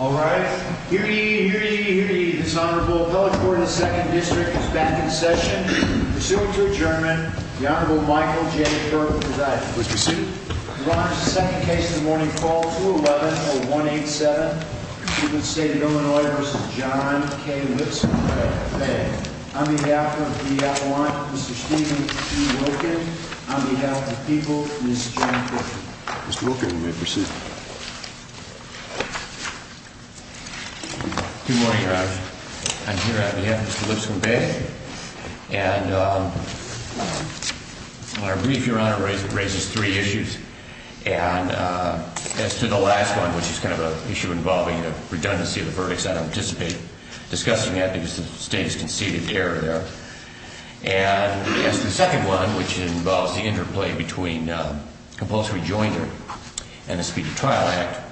Alright, here to eat, here to eat, here to eat, this Honorable Appellate Court of the 2nd District is back in session. Pursuant to adjournment, the Honorable Michael J. Burke presides. Please be seated. We launch the second case of the morning, call 211-0187, Stephens State of Illinois v. John K. Lipscomb-Bey. On behalf of the Appalachian, Mr. Stephen B. Wilkin. On behalf of the people, Mrs. John Wilkin. Mr. Wilkin may proceed. Good morning, Your Honor. I'm here on behalf of Mr. Lipscomb-Bey. And our brief, Your Honor, raises three issues. And as to the last one, which is kind of an issue involving a redundancy of the verdicts, I don't anticipate discussing that because the State has conceded error there. And as to the second one, which involves the interplay between compulsory joinder and the Speedy Trial Act,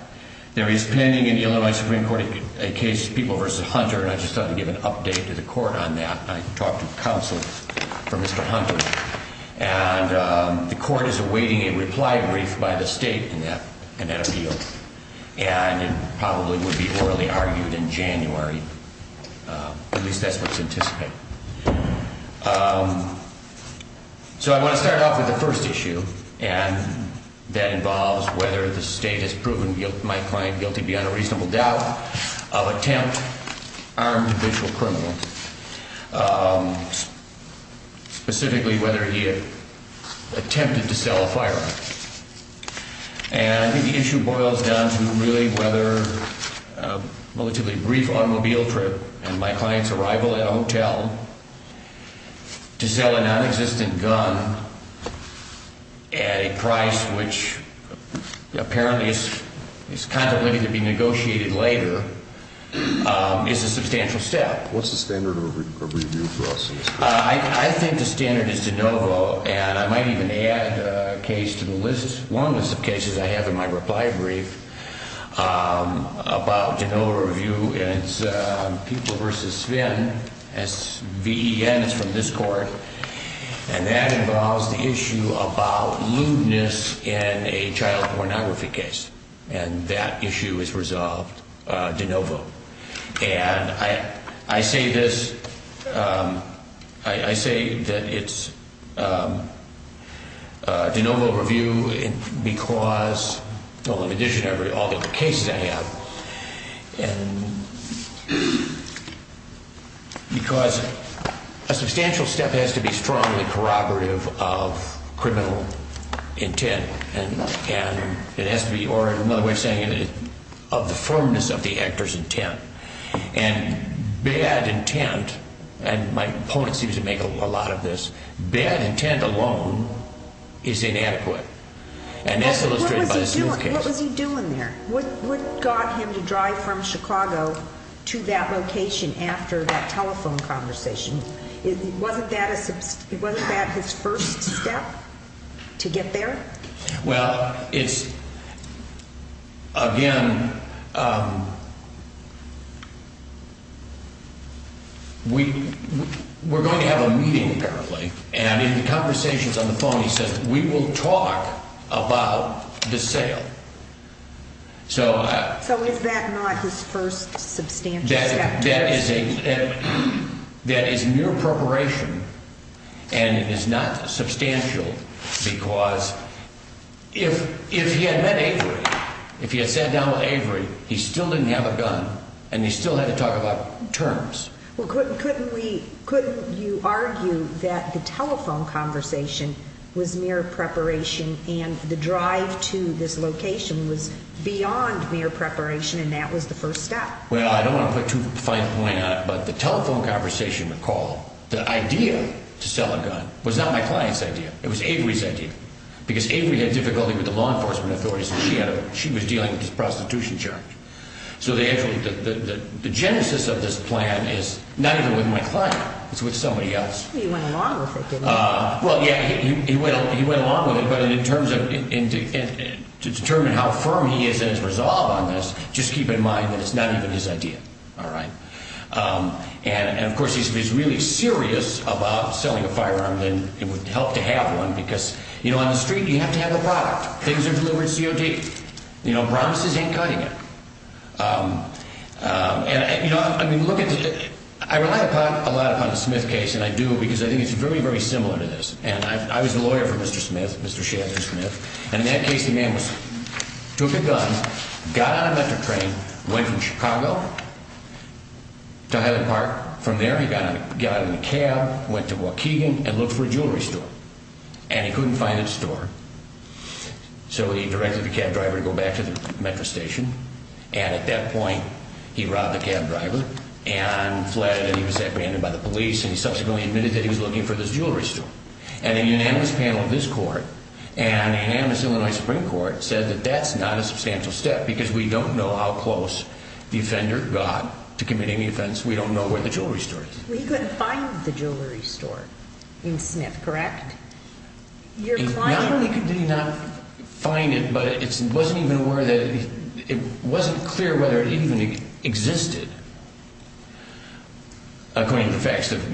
there is pending in the Illinois Supreme Court a case, People v. Hunter, and I just thought I'd give an update to the Court on that. I talked to counsel for Mr. Hunter. And the Court is awaiting a reply brief by the State in that appeal. And it probably would be orally argued in January. At least that's what's anticipated. So I want to start off with the first issue. And that involves whether the State has proven my client guilty beyond a reasonable doubt of attempt, armed official criminal, specifically whether he attempted to sell a firearm. And I think the issue boils down to really whether a relatively brief automobile trip and my client's arrival at a hotel to sell a nonexistent gun at a price which apparently is contemplated to be negotiated later is a substantial step. What's the standard of review for us? I think the standard is de novo. And I might even add a case to the list, one list of cases I have in my reply brief, about de novo review, and it's People v. Sven, S-V-E-N, it's from this Court. And that involves the issue about lewdness in a child pornography case. And I say this, I say that it's de novo review because, well, in addition to all the cases I have, because a substantial step has to be strongly corroborative of criminal intent. And it has to be, or another way of saying it, of the firmness of the actor's intent. And bad intent, and my opponent seems to make a lot of this, bad intent alone is inadequate. And that's illustrated by this new case. What was he doing there? What got him to drive from Chicago to that location after that telephone conversation? Wasn't that his first step to get there? Well, it's, again, we're going to have a meeting apparently. And in the conversations on the phone, he says, we will talk about the sale. So is that not his first substantial step? That is mere preparation, and it is not substantial because if he had met Avery, if he had sat down with Avery, he still didn't have a gun, and he still had to talk about terms. Well, couldn't we, couldn't you argue that the telephone conversation was mere preparation and the drive to this location was beyond mere preparation and that was the first step? Well, I don't want to put too fine a point on it, but the telephone conversation, recall, the idea to sell a gun was not my client's idea. It was Avery's idea because Avery had difficulty with the law enforcement authorities. She was dealing with this prostitution charge. So the genesis of this plan is not even with my client. It's with somebody else. He went along with it, didn't he? Well, yeah, he went along with it, but in terms of, to determine how firm he is in his resolve on this, just keep in mind that it's not even his idea, all right? And, of course, if he's really serious about selling a firearm, then it would help to have one because, you know, on the street you have to have a product. Things are delivered COD. You know, promises ain't cutting it. And, you know, I mean, look at the, I rely a lot upon the Smith case, and I do, because I think it's very, very similar to this. And I was the lawyer for Mr. Smith, Mr. Shazard Smith, and in that case the man was, took a gun, got on a Metro train, went from Chicago to Highland Park. From there he got in a cab, went to Waukegan, and looked for a jewelry store. And he couldn't find a store, so he directed the cab driver to go back to the Metro station. And at that point he robbed the cab driver and flattered that he was abandoned by the police, and he subsequently admitted that he was looking for this jewelry store. And a unanimous panel of this court and a unanimous Illinois Supreme Court said that that's not a substantial step because we don't know how close the offender got to committing the offense. We don't know where the jewelry store is. Well, he couldn't find the jewelry store in Smith, correct? Not only could he not find it, but it wasn't even aware that, it wasn't clear whether it even existed, according to the facts of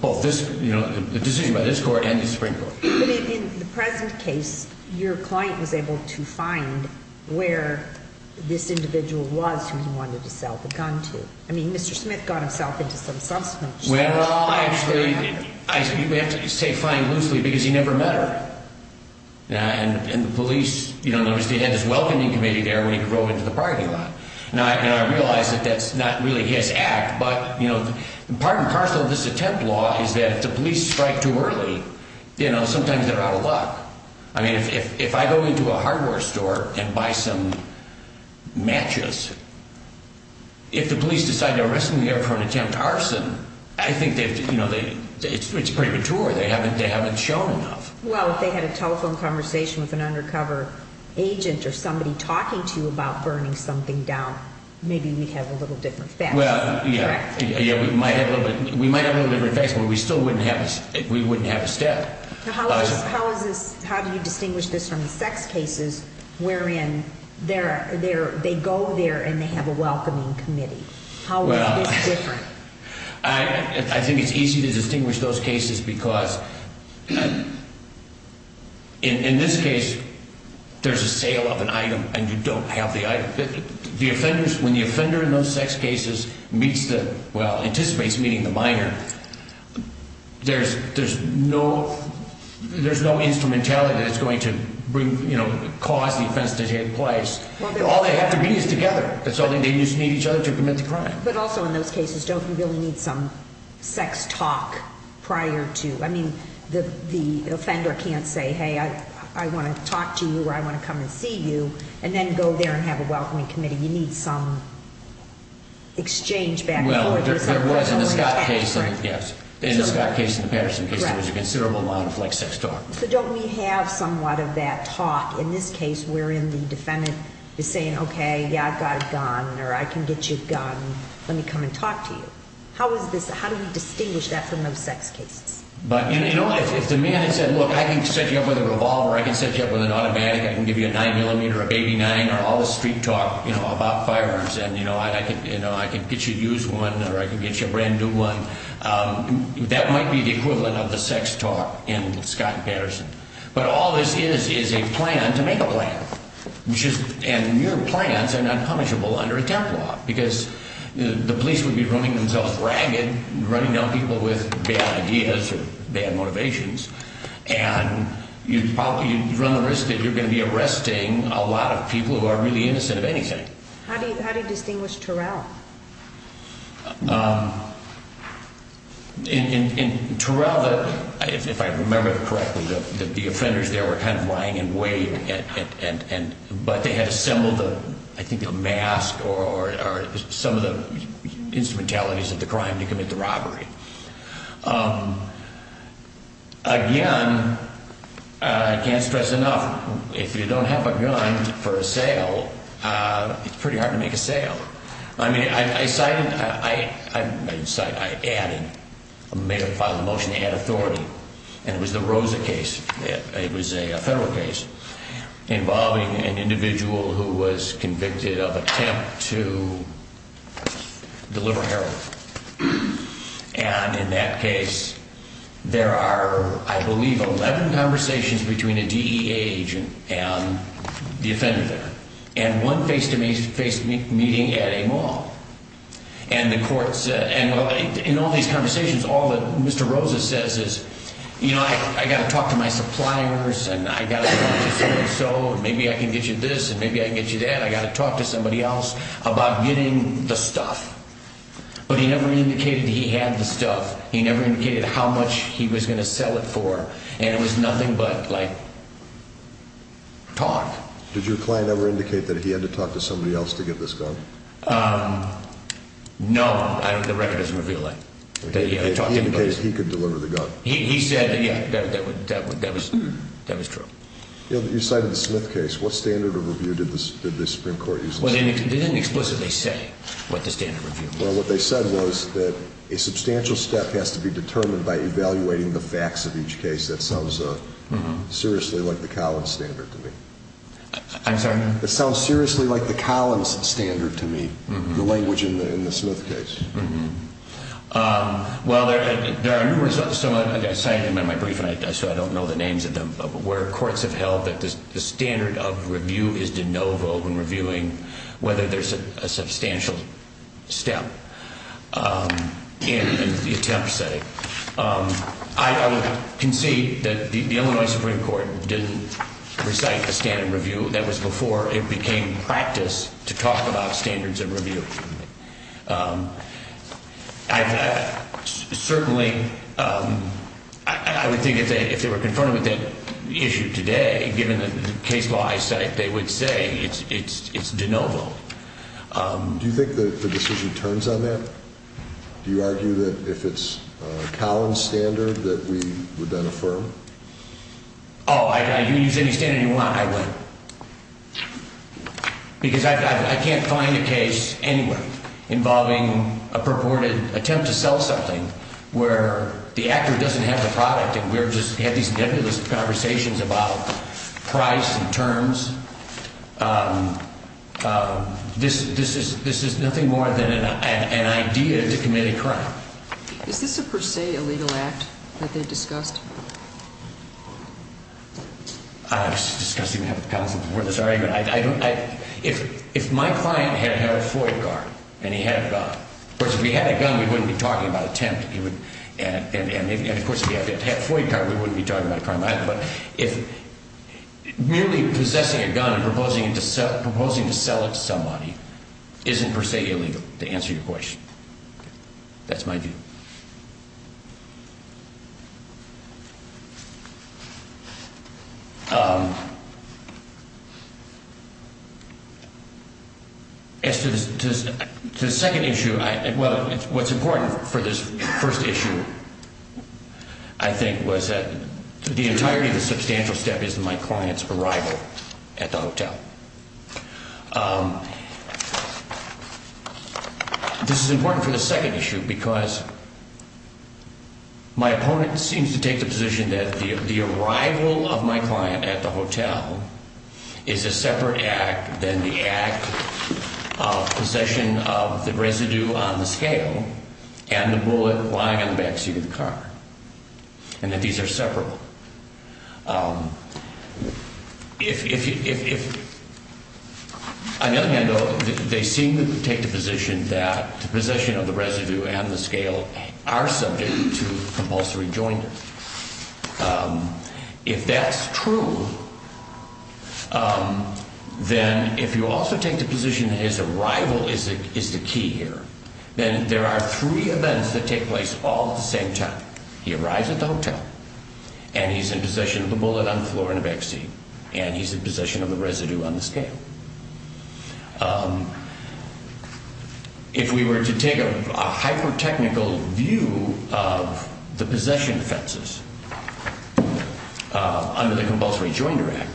both this, the decision by this court and the Supreme Court. In the present case, your client was able to find where this individual was who he wanted to sell the gun to. I mean, Mr. Smith got himself into some substantial trouble. Well, actually, you have to say find loosely because he never met her. And the police, you know, there was this welcoming committee there when he drove into the parking lot. And I realize that that's not really his act, but, you know, part and parcel of this attempt law is that if the police strike too early, you know, sometimes they're out of luck. I mean, if I go into a hardware store and buy some matches, if the police decide to arrest me there for an attempt to arson, I think they've, you know, it's premature. They haven't shown enough. Well, if they had a telephone conversation with an undercover agent or somebody talking to you about burning something down, maybe we'd have a little different facts. Well, yeah, we might have a little different facts, but we still wouldn't have a step. How do you distinguish this from the sex cases wherein they go there and they have a welcoming committee? How is this different? I think it's easy to distinguish those cases because in this case there's a sale of an item and you don't have the item. The offenders, when the offender in those sex cases meets the, well, anticipates meeting the minor, there's no instrumentality that's going to bring, you know, cause the offense to take place. All they have to be is together. That's all they need. They just need each other to commit the crime. But also in those cases, don't you really need some sex talk prior to? I mean, the offender can't say, hey, I want to talk to you or I want to come and see you, and then go there and have a welcoming committee. You need some exchange back and forth. Well, there was in the Scott case. In the Scott case and the Patterson case, there was a considerable amount of, like, sex talk. So don't we have somewhat of that talk? In this case wherein the defendant is saying, okay, yeah, I've got a gun or I can get you a gun. Let me come and talk to you. How is this? How do we distinguish that from those sex cases? But, you know, if the man had said, look, I can set you up with a revolver, I can set you up with an automatic, I can give you a 9mm or a baby 9 or all the street talk, you know, about firearms, and, you know, I can get you to use one or I can get you a brand new one, that might be the equivalent of the sex talk in Scott and Patterson. But all this is is a plan to make a plan. And your plans are not punishable under a temp law because the police would be running themselves ragged, running down people with bad ideas or bad motivations, and you run the risk that you're going to be arresting a lot of people who are really innocent of anything. How do you distinguish Terrell? In Terrell, if I remember correctly, the offenders there were kind of lying in wait, but they had assembled, I think, a mask or some of the instrumentalities of the crime to commit the robbery. Again, I can't stress enough, if you don't have a gun for a sale, it's pretty hard to make a sale. I mean, I cited, I added, made a final motion to add authority, and it was the Rosa case. It was a federal case involving an individual who was convicted of attempt to deliver heroin. And in that case, there are, I believe, 11 conversations between a DEA agent and the offender there. And one face-to-face meeting at a mall. And the court said, in all these conversations, all that Mr. Rosa says is, you know, I've got to talk to my suppliers, and I've got to talk to so-and-so, and maybe I can get you this, and maybe I can get you that. I've got to talk to somebody else about getting the stuff. But he never indicated he had the stuff. He never indicated how much he was going to sell it for. And it was nothing but, like, talk. Did your client ever indicate that he had to talk to somebody else to get this gun? No. The record doesn't reveal that. He indicated he could deliver the gun. He said that, yeah, that was true. You cited the Smith case. What standard of review did the Supreme Court use? They didn't explicitly say what the standard review was. Well, what they said was that a substantial step has to be determined by evaluating the facts of each case. That sounds seriously like the Collins standard to me. I'm sorry? That sounds seriously like the Collins standard to me, the language in the Smith case. Well, there are numerous others. I cited them in my brief, so I don't know the names of them. But where courts have held that the standard of review is de novo when reviewing whether there's a substantial step in the attempt setting. I would concede that the Illinois Supreme Court didn't recite a standard review. That was before it became practice to talk about standards of review. Certainly, I would think if they were confronted with that issue today, given the case law I cite, they would say it's de novo. Do you think the decision turns on that? Do you argue that if it's a Collins standard that we would then affirm? Oh, if you use any standard you want, I would. Because I can't find a case anywhere involving a purported attempt to sell something where the actor doesn't have the product and we just have these nebulous conversations about price and terms. This is nothing more than an idea to commit a crime. Is this a per se illegal act that they discussed? I was discussing that with counsel before this argument. If my client had had a Floyd card and he had a gun, of course, if he had a gun, we wouldn't be talking about attempt. And of course, if he had a Floyd card, we wouldn't be talking about a crime either. But merely possessing a gun and proposing to sell it to somebody isn't per se illegal, to answer your question. That's my view. As to the second issue, well, what's important for this first issue, I think, was that the entirety of the substantial step is my client's arrival at the hotel. This is important for the second issue because my opponent seems to take the position that the arrival of my client at the hotel is a separate act than the act of possession of the residue on the scale and the bullet lying on the back seat of the car. And that these are separable. If, on the other hand, though, they seem to take the position that the possession of the residue and the scale are subject to compulsory joint. If that's true, then if you also take the position that his arrival is the key here, then there are three events that take place all at the same time. He arrives at the hotel and he's in possession of the bullet on the floor in the back seat and he's in possession of the residue on the scale. If we were to take a hyper-technical view of the possession offenses under the Compulsory Jointer Act,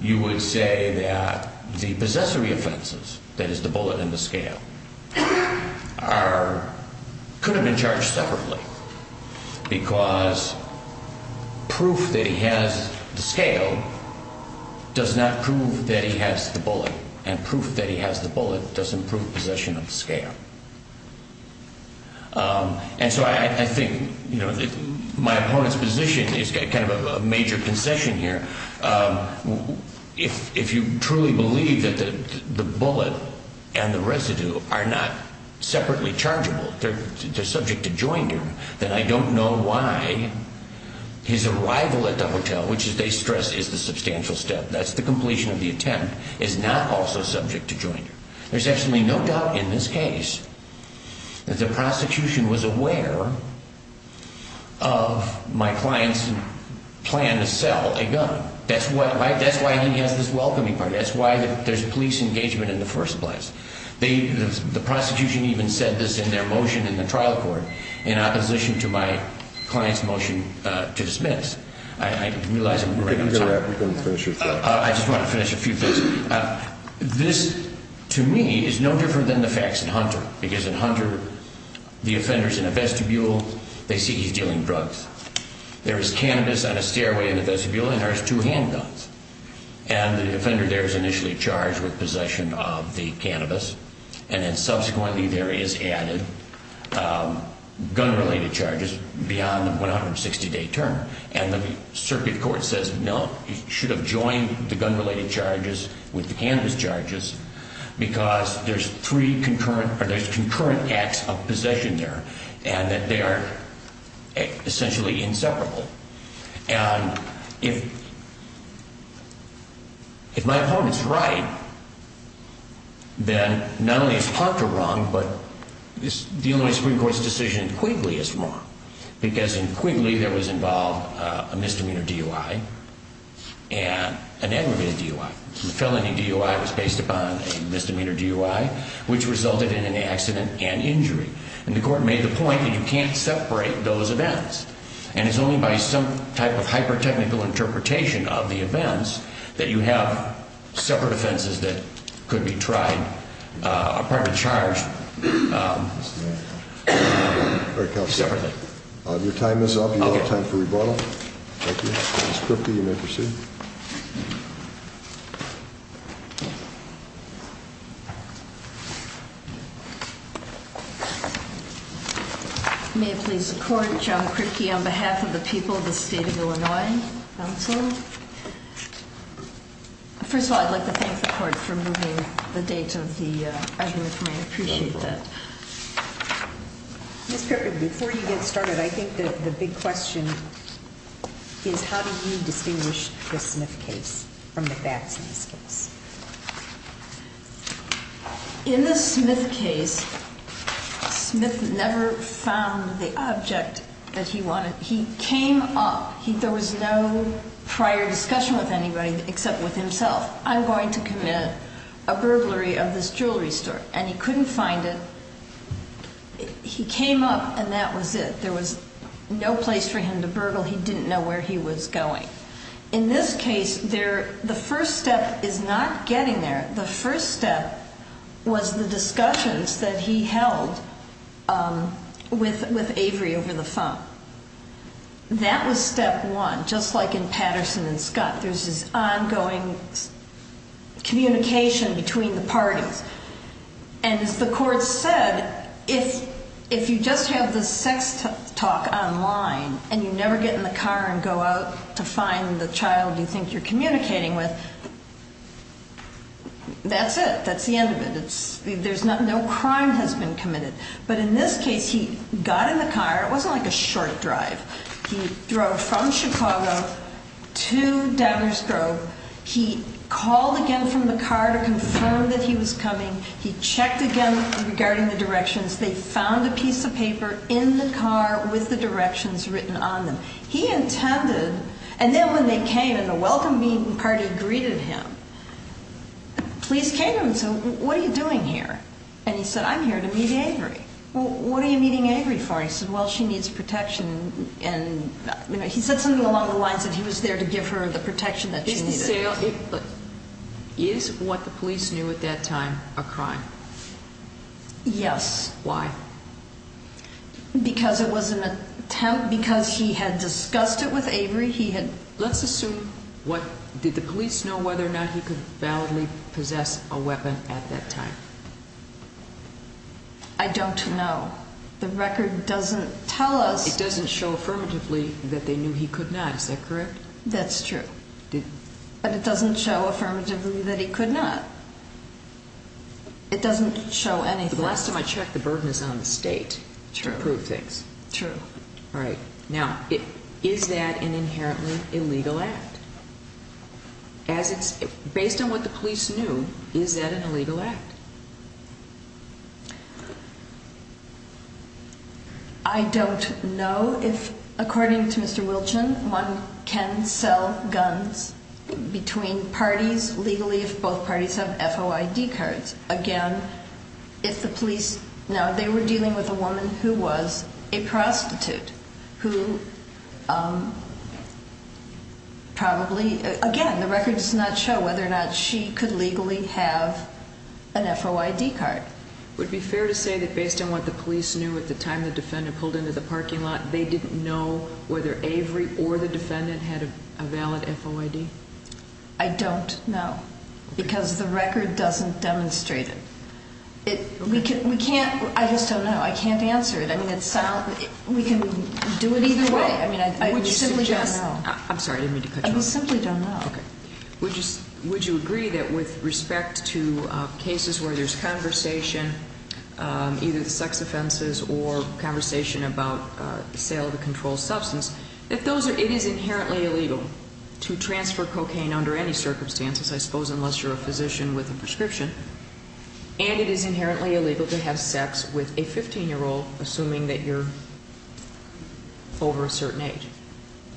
you would say that the possessory offenses, that is, the bullet and the scale, could have been charged separately. Because proof that he has the scale does not prove that he has the bullet. And proof that he has the bullet doesn't prove possession of the scale. And so I think my opponent's position is kind of a major concession here. If you truly believe that the bullet and the residue are not separately chargeable, they're subject to jointer, then I don't know why his arrival at the hotel, which they stress is the substantial step, that's the completion of the attempt, is not also subject to jointer. There's absolutely no doubt in this case that the prosecution was aware of my client's plan to sell a gun. That's why he has this welcoming party. That's why there's police engagement in the first place. The prosecution even said this in their motion in the trial court in opposition to my client's motion to dismiss. I realize I'm running out of time. I just want to finish a few things. This, to me, is no different than the facts in Hunter. Because in Hunter, the offender's in a vestibule. They see he's dealing drugs. There is cannabis on a stairway in the vestibule, and there's two handguns. And the offender there is initially charged with possession of the cannabis. And then subsequently there is added gun-related charges beyond the 160-day term. And the circuit court says, no, you should have joined the gun-related charges with the cannabis charges because there's three concurrent, or there's concurrent acts of possession there, and that they are essentially inseparable. And if my opponent's right, then not only is Hunter wrong, but the Illinois Supreme Court's decision in Quigley is wrong. Because in Quigley there was involved a misdemeanor DUI and an aggravated DUI. The felony DUI was based upon a misdemeanor DUI, which resulted in an accident and injury. And the court made the point that you can't separate those events. And it's only by some type of hyper-technical interpretation of the events that you have separate offenses that could be tried, a private charge, separately. Your time is up. You have time for rebuttal. Thank you. Ms. Kripke, you may proceed. May it please the Court, John Kripke on behalf of the people of the state of Illinois, counsel. First of all, I'd like to thank the Court for moving the date of the adjournment for me. I appreciate that. Ms. Kripke, before you get started, I think the big question is how do you distinguish criminal charges? In the Smith case, Smith never found the object that he wanted. He came up, there was no prior discussion with anybody except with himself. I'm going to commit a burglary of this jewelry store. And he couldn't find it. He came up and that was it. There was no place for him to burgle. He didn't know where he was going. In this case, the first step is not getting there. The first step was the discussions that he held with Avery over the phone. That was step one, just like in Patterson and Scott. There's this ongoing communication between the parties. And as the Court said, if you just have the sex talk online and you never get in the car and go out to find the child you think you're communicating with, that's it. That's the end of it. No crime has been committed. But in this case, he got in the car. It wasn't like a short drive. He drove from Chicago to Downers Grove. He called again from the car to confirm that he was coming. He checked again regarding the directions. They found a piece of paper in the car with the directions written on them. He intended, and then when they came and the welcome meeting party greeted him, the police came to him and said, what are you doing here? And he said, I'm here to meet Avery. Well, what are you meeting Avery for? He said, well, she needs protection. He said something along the lines that he was there to give her the protection that she needed. Is what the police knew at that time a crime? Yes. Why? Because it was an attempt, because he had discussed it with Avery. Let's assume, did the police know whether or not he could validly possess a weapon at that time? I don't know. The record doesn't tell us. It doesn't show affirmatively that they knew he could not. Is that correct? That's true. But it doesn't show affirmatively that he could not. It doesn't show anything. The last time I checked, the burden is on the state to prove things. True. All right. Now, is that an inherently illegal act? Based on what the police knew, is that an illegal act? I don't know if, according to Mr. Wilchin, one can sell guns between parties legally if both parties have FOID cards. Again, if the police know they were dealing with a woman who was a prostitute, who probably, again, the record does not show whether or not she could legally have an FOID card. Would it be fair to say that based on what the police knew at the time the defendant pulled into the parking lot, they didn't know whether Avery or the defendant had a valid FOID? I don't know. Because the record doesn't demonstrate it. I just don't know. I can't answer it. We can do it either way. I simply don't know. I'm sorry. I didn't mean to cut you off. I simply don't know. Would you agree that with respect to cases where there's conversation, either sex offenses or conversation about sale of a controlled substance, that it is inherently illegal to transfer cocaine under any circumstances, I suppose, unless you're a physician with a prescription, and it is inherently illegal to have sex with a 15-year-old, assuming that you're over a certain age?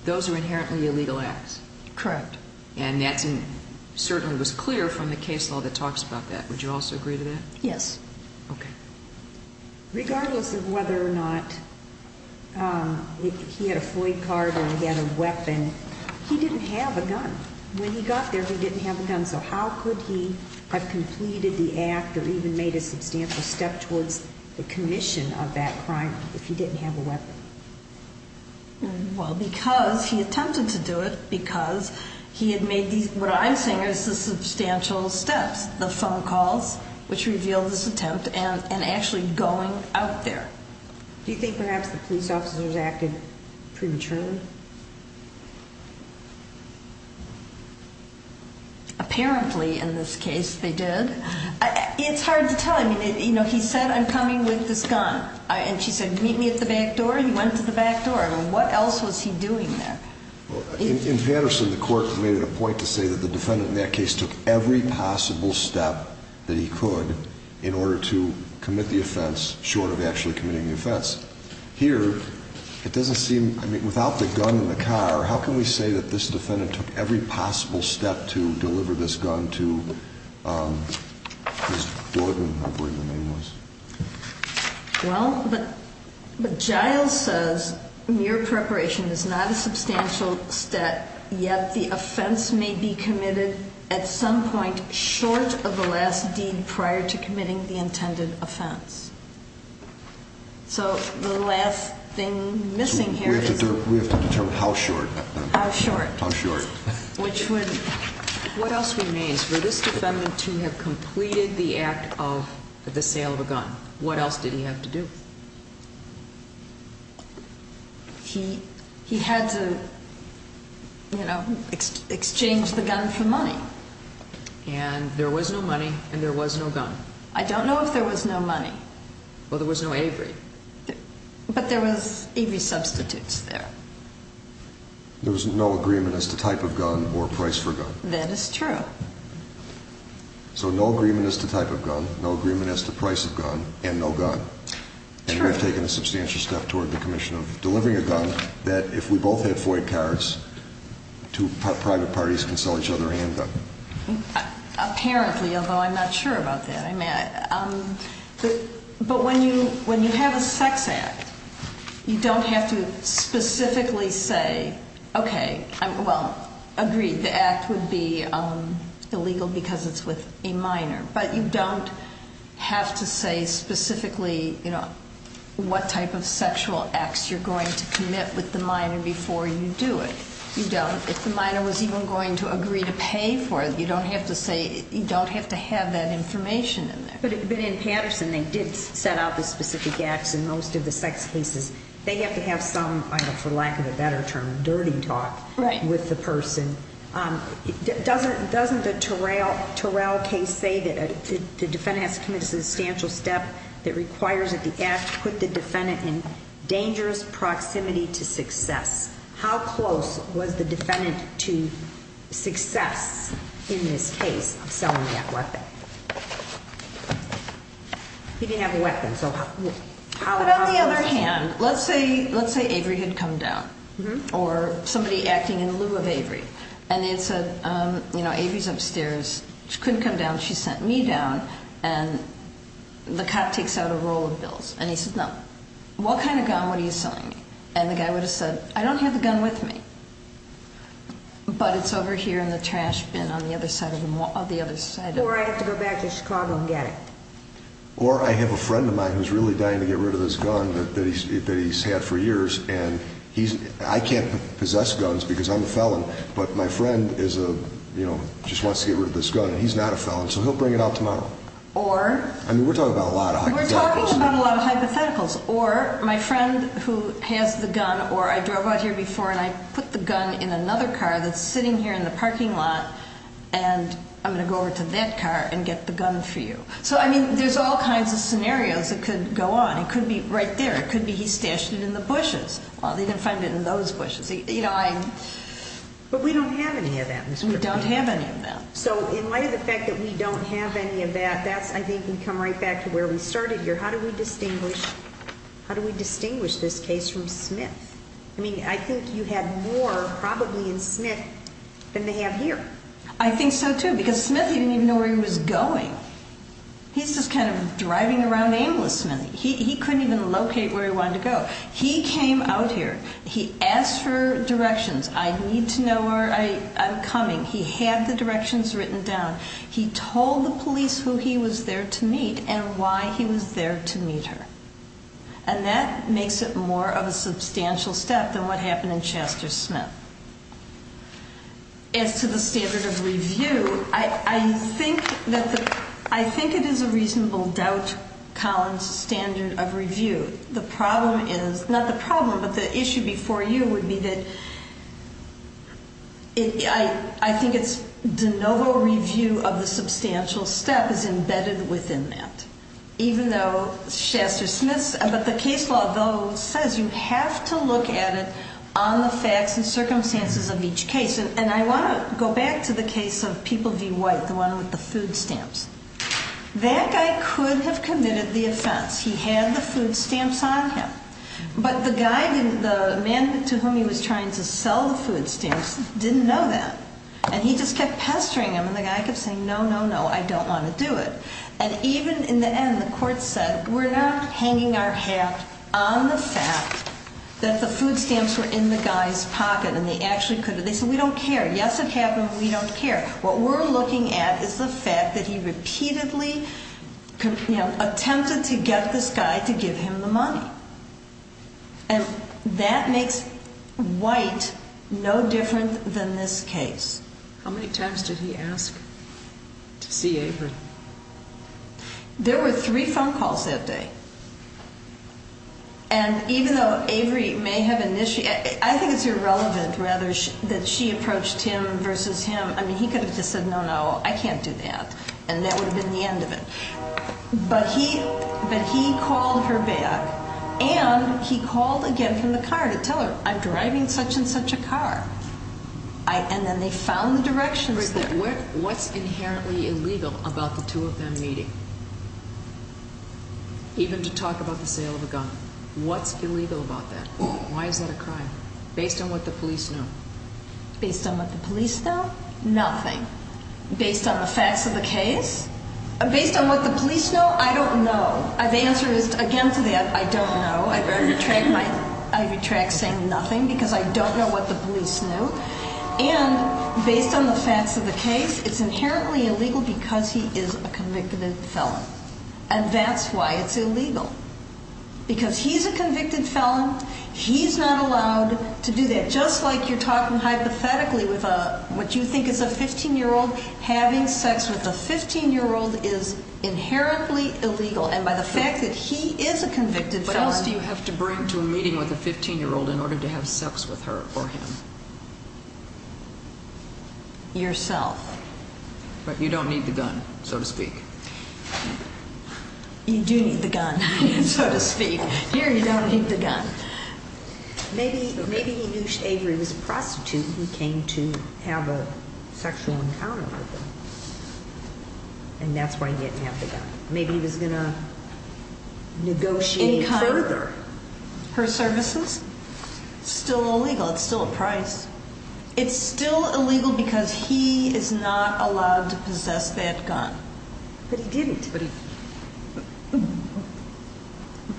Those are inherently illegal acts. Correct. And that certainly was clear from the case law that talks about that. Would you also agree to that? Yes. Okay. Regardless of whether or not he had a FOID card or he had a weapon, he didn't have a gun. When he got there, he didn't have a gun. So how could he have completed the act or even made a substantial step towards the commission of that crime if he didn't have a weapon? Well, because he attempted to do it because he had made what I'm saying is the substantial steps, which revealed this attempt, and actually going out there. Do you think perhaps the police officers acted prematurely? Apparently, in this case, they did. It's hard to tell. I mean, he said, I'm coming with this gun. And she said, meet me at the back door. He went to the back door. What else was he doing there? In Patterson, the court made it a point to say that the defendant in that case took every possible step that he could in order to commit the offense short of actually committing the offense. Here, it doesn't seem, I mean, without the gun in the car, how can we say that this defendant took every possible step to deliver this gun to his warden, I believe the name was? Well, but Giles says mere preparation is not a substantial step, yet the offense may be committed at some point short of the last deed prior to committing the intended offense. So the last thing missing here is... We have to determine how short. How short. How short. What else remains? For this defendant to have completed the act of the sale of a gun, what else did he have to do? He had to, you know, exchange the gun for money. And there was no money and there was no gun. I don't know if there was no money. Well, there was no Avery. But there was Avery substitutes there. There was no agreement as to type of gun or price for gun. That is true. So no agreement as to type of gun, no agreement as to price of gun, and no gun. And we've taken a substantial step toward the commission of delivering a gun, that if we both had FOIA cards, two private parties can sell each other a handgun. Apparently, although I'm not sure about that. But when you have a sex act, you don't have to specifically say, okay, well, agreed, the act would be illegal because it's with a minor. But you don't have to say specifically, you know, what type of sexual acts you're going to commit with the minor before you do it. You don't. If the minor was even going to agree to pay for it, you don't have to say, you don't have to have that information in there. But in Patterson, they did set out the specific acts in most of the sex cases. They have to have some, for lack of a better term, dirty talk with the person. Doesn't the Terrell case say that the defendant has to commit a substantial step that requires that the act put the defendant in dangerous proximity to success? How close was the defendant to success in this case of selling that weapon? He didn't have a weapon, so how close was he? But on the other hand, let's say Avery had come down or somebody acting in lieu of Avery. And they had said, you know, Avery's upstairs. She couldn't come down. She sent me down. And the cop takes out a roll of bills. And he says, no, what kind of gun were you selling me? And the guy would have said, I don't have the gun with me, but it's over here in the trash bin on the other side of the mall. Or I have to go back to Chicago and get it. Or I have a friend of mine who's really dying to get rid of this gun that he's had for years, and I can't possess guns because I'm a felon, but my friend just wants to get rid of this gun, and he's not a felon, so he'll bring it out tomorrow. I mean, we're talking about a lot of hypotheticals. We're talking about a lot of hypotheticals. Or my friend who has the gun, or I drove out here before and I put the gun in another car that's sitting here in the parking lot, and I'm going to go over to that car and get the gun for you. So, I mean, there's all kinds of scenarios that could go on. It could be right there. It could be he stashed it in the bushes. Well, they didn't find it in those bushes. You know, I'm... But we don't have any of that, Ms. Griffith. We don't have any of that. So in light of the fact that we don't have any of that, that's, I think, can come right back to where we started here. How do we distinguish this case from Smith? I mean, I think you had more, probably, in Smith than they have here. I think so, too, because Smith, he didn't even know where he was going. He's just kind of driving around aimlessly. He couldn't even locate where he wanted to go. He came out here. He asked for directions. I need to know where I'm coming. He had the directions written down. He told the police who he was there to meet and why he was there to meet her. And that makes it more of a substantial step than what happened in Chester Smith. As to the standard of review, I think it is a reasonable doubt Collins' standard of review. The problem is, not the problem, but the issue before you would be that I think it's de novo review of the substantial step is embedded within that, even though Chester Smith's, but the case law, though, says you have to look at it on the facts and circumstances of each case. And I want to go back to the case of People v. White, the one with the food stamps. That guy could have committed the offense. He had the food stamps on him. But the man to whom he was trying to sell the food stamps didn't know that. And he just kept pestering him, and the guy kept saying, no, no, no, I don't want to do it. And even in the end, the court said, we're not hanging our hat on the fact that the food stamps were in the guy's pocket and they actually could have. They said, we don't care. Yes, it happened, but we don't care. What we're looking at is the fact that he repeatedly attempted to get this guy to give him the money. And that makes White no different than this case. How many times did he ask to see Avery? There were three phone calls that day. And even though Avery may have initiated, I think it's irrelevant, rather, that she approached him versus him. I mean, he could have just said, no, no, I can't do that. And that would have been the end of it. But he called her back. And he called again from the car to tell her, I'm driving such and such a car. And then they found the directions there. What's inherently illegal about the two of them meeting, even to talk about the sale of a gun? What's illegal about that? Why is that a crime based on what the police know? Based on what the police know? Nothing. Based on the facts of the case? Based on what the police know? I don't know. The answer is, again, to that, I don't know. I retract saying nothing because I don't know what the police know. And based on the facts of the case, it's inherently illegal because he is a convicted felon. And that's why it's illegal. Because he's a convicted felon. He's not allowed to do that. Just like you're talking hypothetically with what you think is a 15-year-old having sex with a 15-year-old is inherently illegal. And by the fact that he is a convicted felon. What else do you have to bring to a meeting with a 15-year-old in order to have sex with her or him? Yourself. But you don't need the gun, so to speak. You do need the gun, so to speak. Here you don't need the gun. Maybe he knew Avery was a prostitute and he came to have a sexual encounter with her. And that's why he didn't have the gun. Maybe he was going to negotiate further. Her services? It's still illegal. It's still a price. It's still illegal because he is not allowed to possess that gun. But he didn't.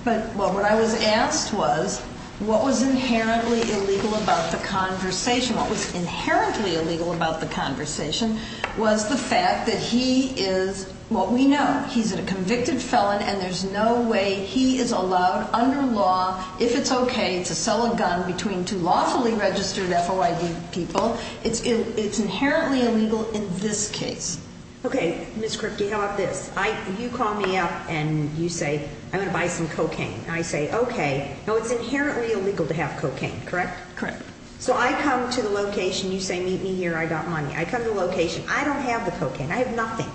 But what I was asked was what was inherently illegal about the conversation? What was inherently illegal about the conversation was the fact that he is what we know. He's a convicted felon, and there's no way he is allowed under law, if it's okay to sell a gun, between two lawfully registered FOID people. It's inherently illegal in this case. Okay, Ms. Kripke, how about this? You call me up and you say, I'm going to buy some cocaine. And I say, okay. Now, it's inherently illegal to have cocaine, correct? Correct. So I come to the location. You say, meet me here. I got money. I come to the location. I don't have the cocaine. I have nothing.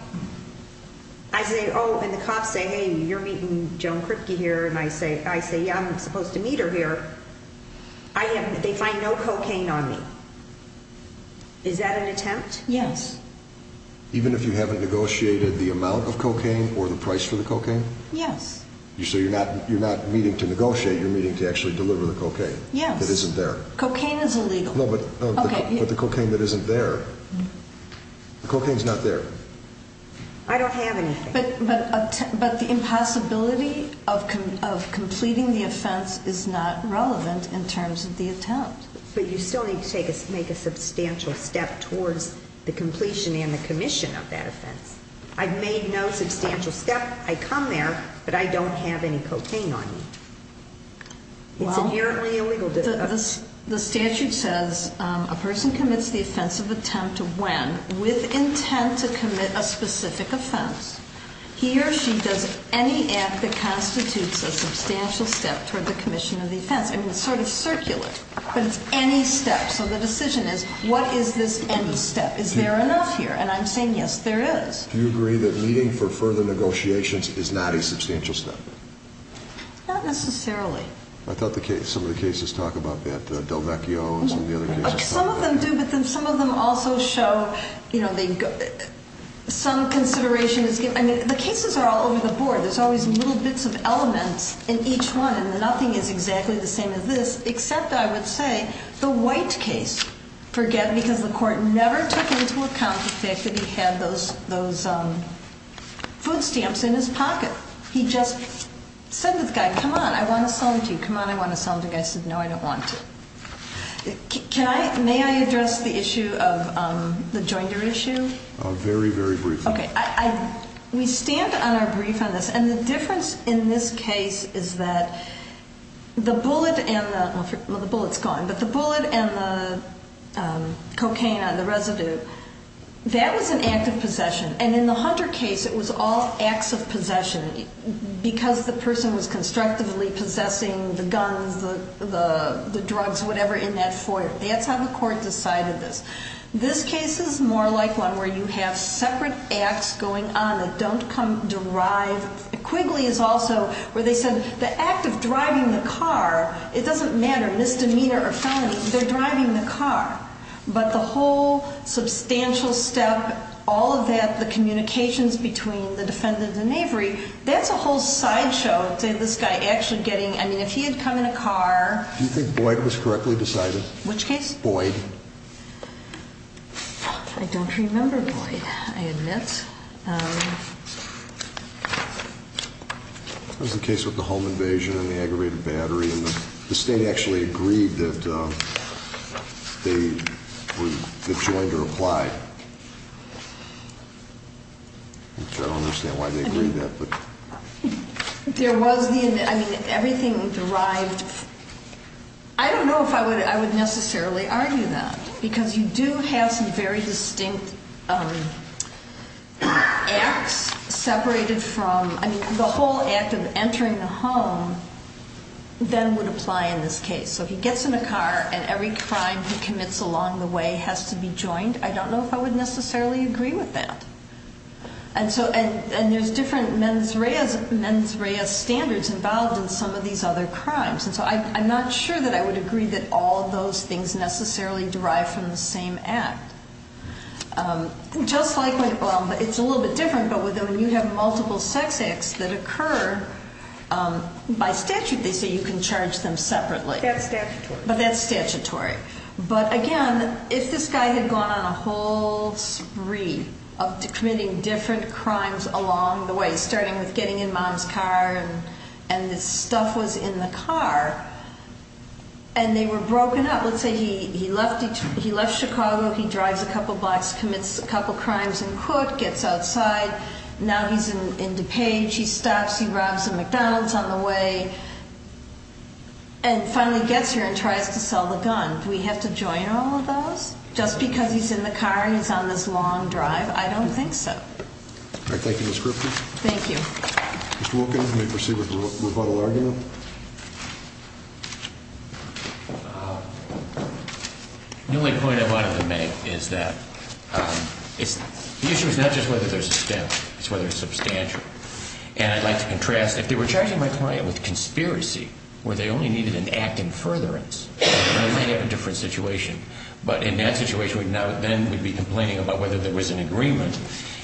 I say, oh, and the cops say, hey, you're meeting Joan Kripke here. And I say, yeah, I'm supposed to meet her here. They find no cocaine on me. Is that an attempt? Yes. Even if you haven't negotiated the amount of cocaine or the price for the cocaine? Yes. So you're not meeting to negotiate, you're meeting to actually deliver the cocaine. Yes. That isn't there. Cocaine is illegal. No, but the cocaine that isn't there. The cocaine is not there. I don't have anything. But the impossibility of completing the offense is not relevant in terms of the attempt. But you still need to make a substantial step towards the completion and the commission of that offense. I've made no substantial step. I come there, but I don't have any cocaine on me. It's inherently illegal. The statute says a person commits the offensive attempt when, with intent to commit a specific offense, he or she does any act that constitutes a substantial step toward the commission of the offense. It's sort of circulate, but it's any step. So the decision is, what is this any step? Is there enough here? And I'm saying, yes, there is. Do you agree that meeting for further negotiations is not a substantial step? Not necessarily. I thought some of the cases talk about that. Delvecchio and some of the other cases talk about that. Some of them do, but then some of them also show some consideration is given. I mean, the cases are all over the board. There's always little bits of elements in each one, and nothing is exactly the same as this, except, I would say, the White case. Because the court never took into account the fact that he had those food stamps in his pocket. He just said to the guy, come on, I want to sell them to you. Come on, I want to sell them to you. The guy said, no, I don't want to. May I address the issue of the joinder issue? Very, very briefly. We stand on our brief on this. And the difference in this case is that the bullet and the cocaine on the residue, that was an act of possession. And in the Hunter case, it was all acts of possession. Because the person was constructively possessing the guns, the drugs, whatever, in that foyer. That's how the court decided this. This case is more like one where you have separate acts going on that don't come derived. Quigley is also where they said the act of driving the car, it doesn't matter, misdemeanor or felony, they're driving the car. But the whole substantial step, all of that, the communications between the defendant and Avery, that's a whole sideshow to this guy actually getting. I mean, if he had come in a car. Do you think Boyd was correctly decided? Which case? Boyd. I don't remember Boyd, I admit. That was the case with the home invasion and the aggravated battery. And the state actually agreed that the joinder applied. I don't understand why they agreed that. There was the, I mean, everything derived. I don't know if I would necessarily argue that. Because you do have some very distinct acts separated from, I mean, the whole act of entering the home then would apply in this case. So he gets in a car and every crime he commits along the way has to be joined. I don't know if I would necessarily agree with that. And there's different mens rea standards involved in some of these other crimes. And so I'm not sure that I would agree that all of those things necessarily derive from the same act. Just like, well, it's a little bit different, but when you have multiple sex acts that occur, by statute they say you can charge them separately. But that's statutory. But again, if this guy had gone on a whole spree of committing different crimes along the way, starting with getting in mom's car and this stuff was in the car, and they were broken up. Let's say he left Chicago, he drives a couple blocks, commits a couple crimes in Cook, gets outside. Now he's in DuPage, he stops, he grabs a McDonald's on the way, and finally gets here and tries to sell the gun. Do we have to join all of those? Just because he's in the car and he's on this long drive, I don't think so. All right, thank you, Ms. Griffin. Thank you. Mr. Wilkins, may we proceed with the rebuttal argument? The only point I wanted to make is that the issue is not just whether there's a stem, it's whether it's substantial. And I'd like to contrast, if they were charging my client with conspiracy where they only needed an act in furtherance, they might have a different situation. But in that situation, then we'd be complaining about whether there was an agreement.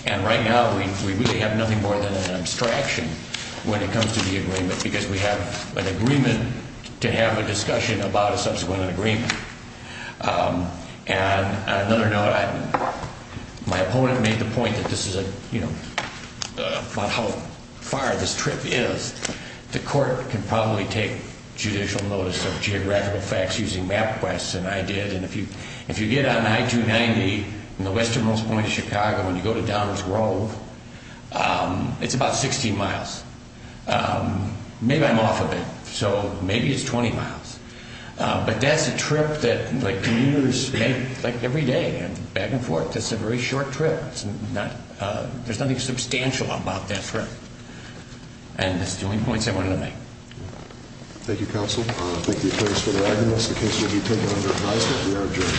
And right now we really have nothing more than an abstraction when it comes to the agreement because we have an agreement to have a discussion about a subsequent agreement. And on another note, my opponent made the point that this is a, you know, about how far this trip is. The court can probably take judicial notice of geographical facts using MapQuest, and I did. And if you get on I-290 from the westernmost point of Chicago and you go to Downers Grove, it's about 60 miles. Maybe I'm off a bit, so maybe it's 20 miles. But that's a trip that, like, commuters make, like, every day, back and forth. That's a very short trip. There's nothing substantial about that trip. And that's the only point I wanted to make. Thank you, counsel. Thank the attorneys for their evidence. The case will be taken under advise that we are adjourned.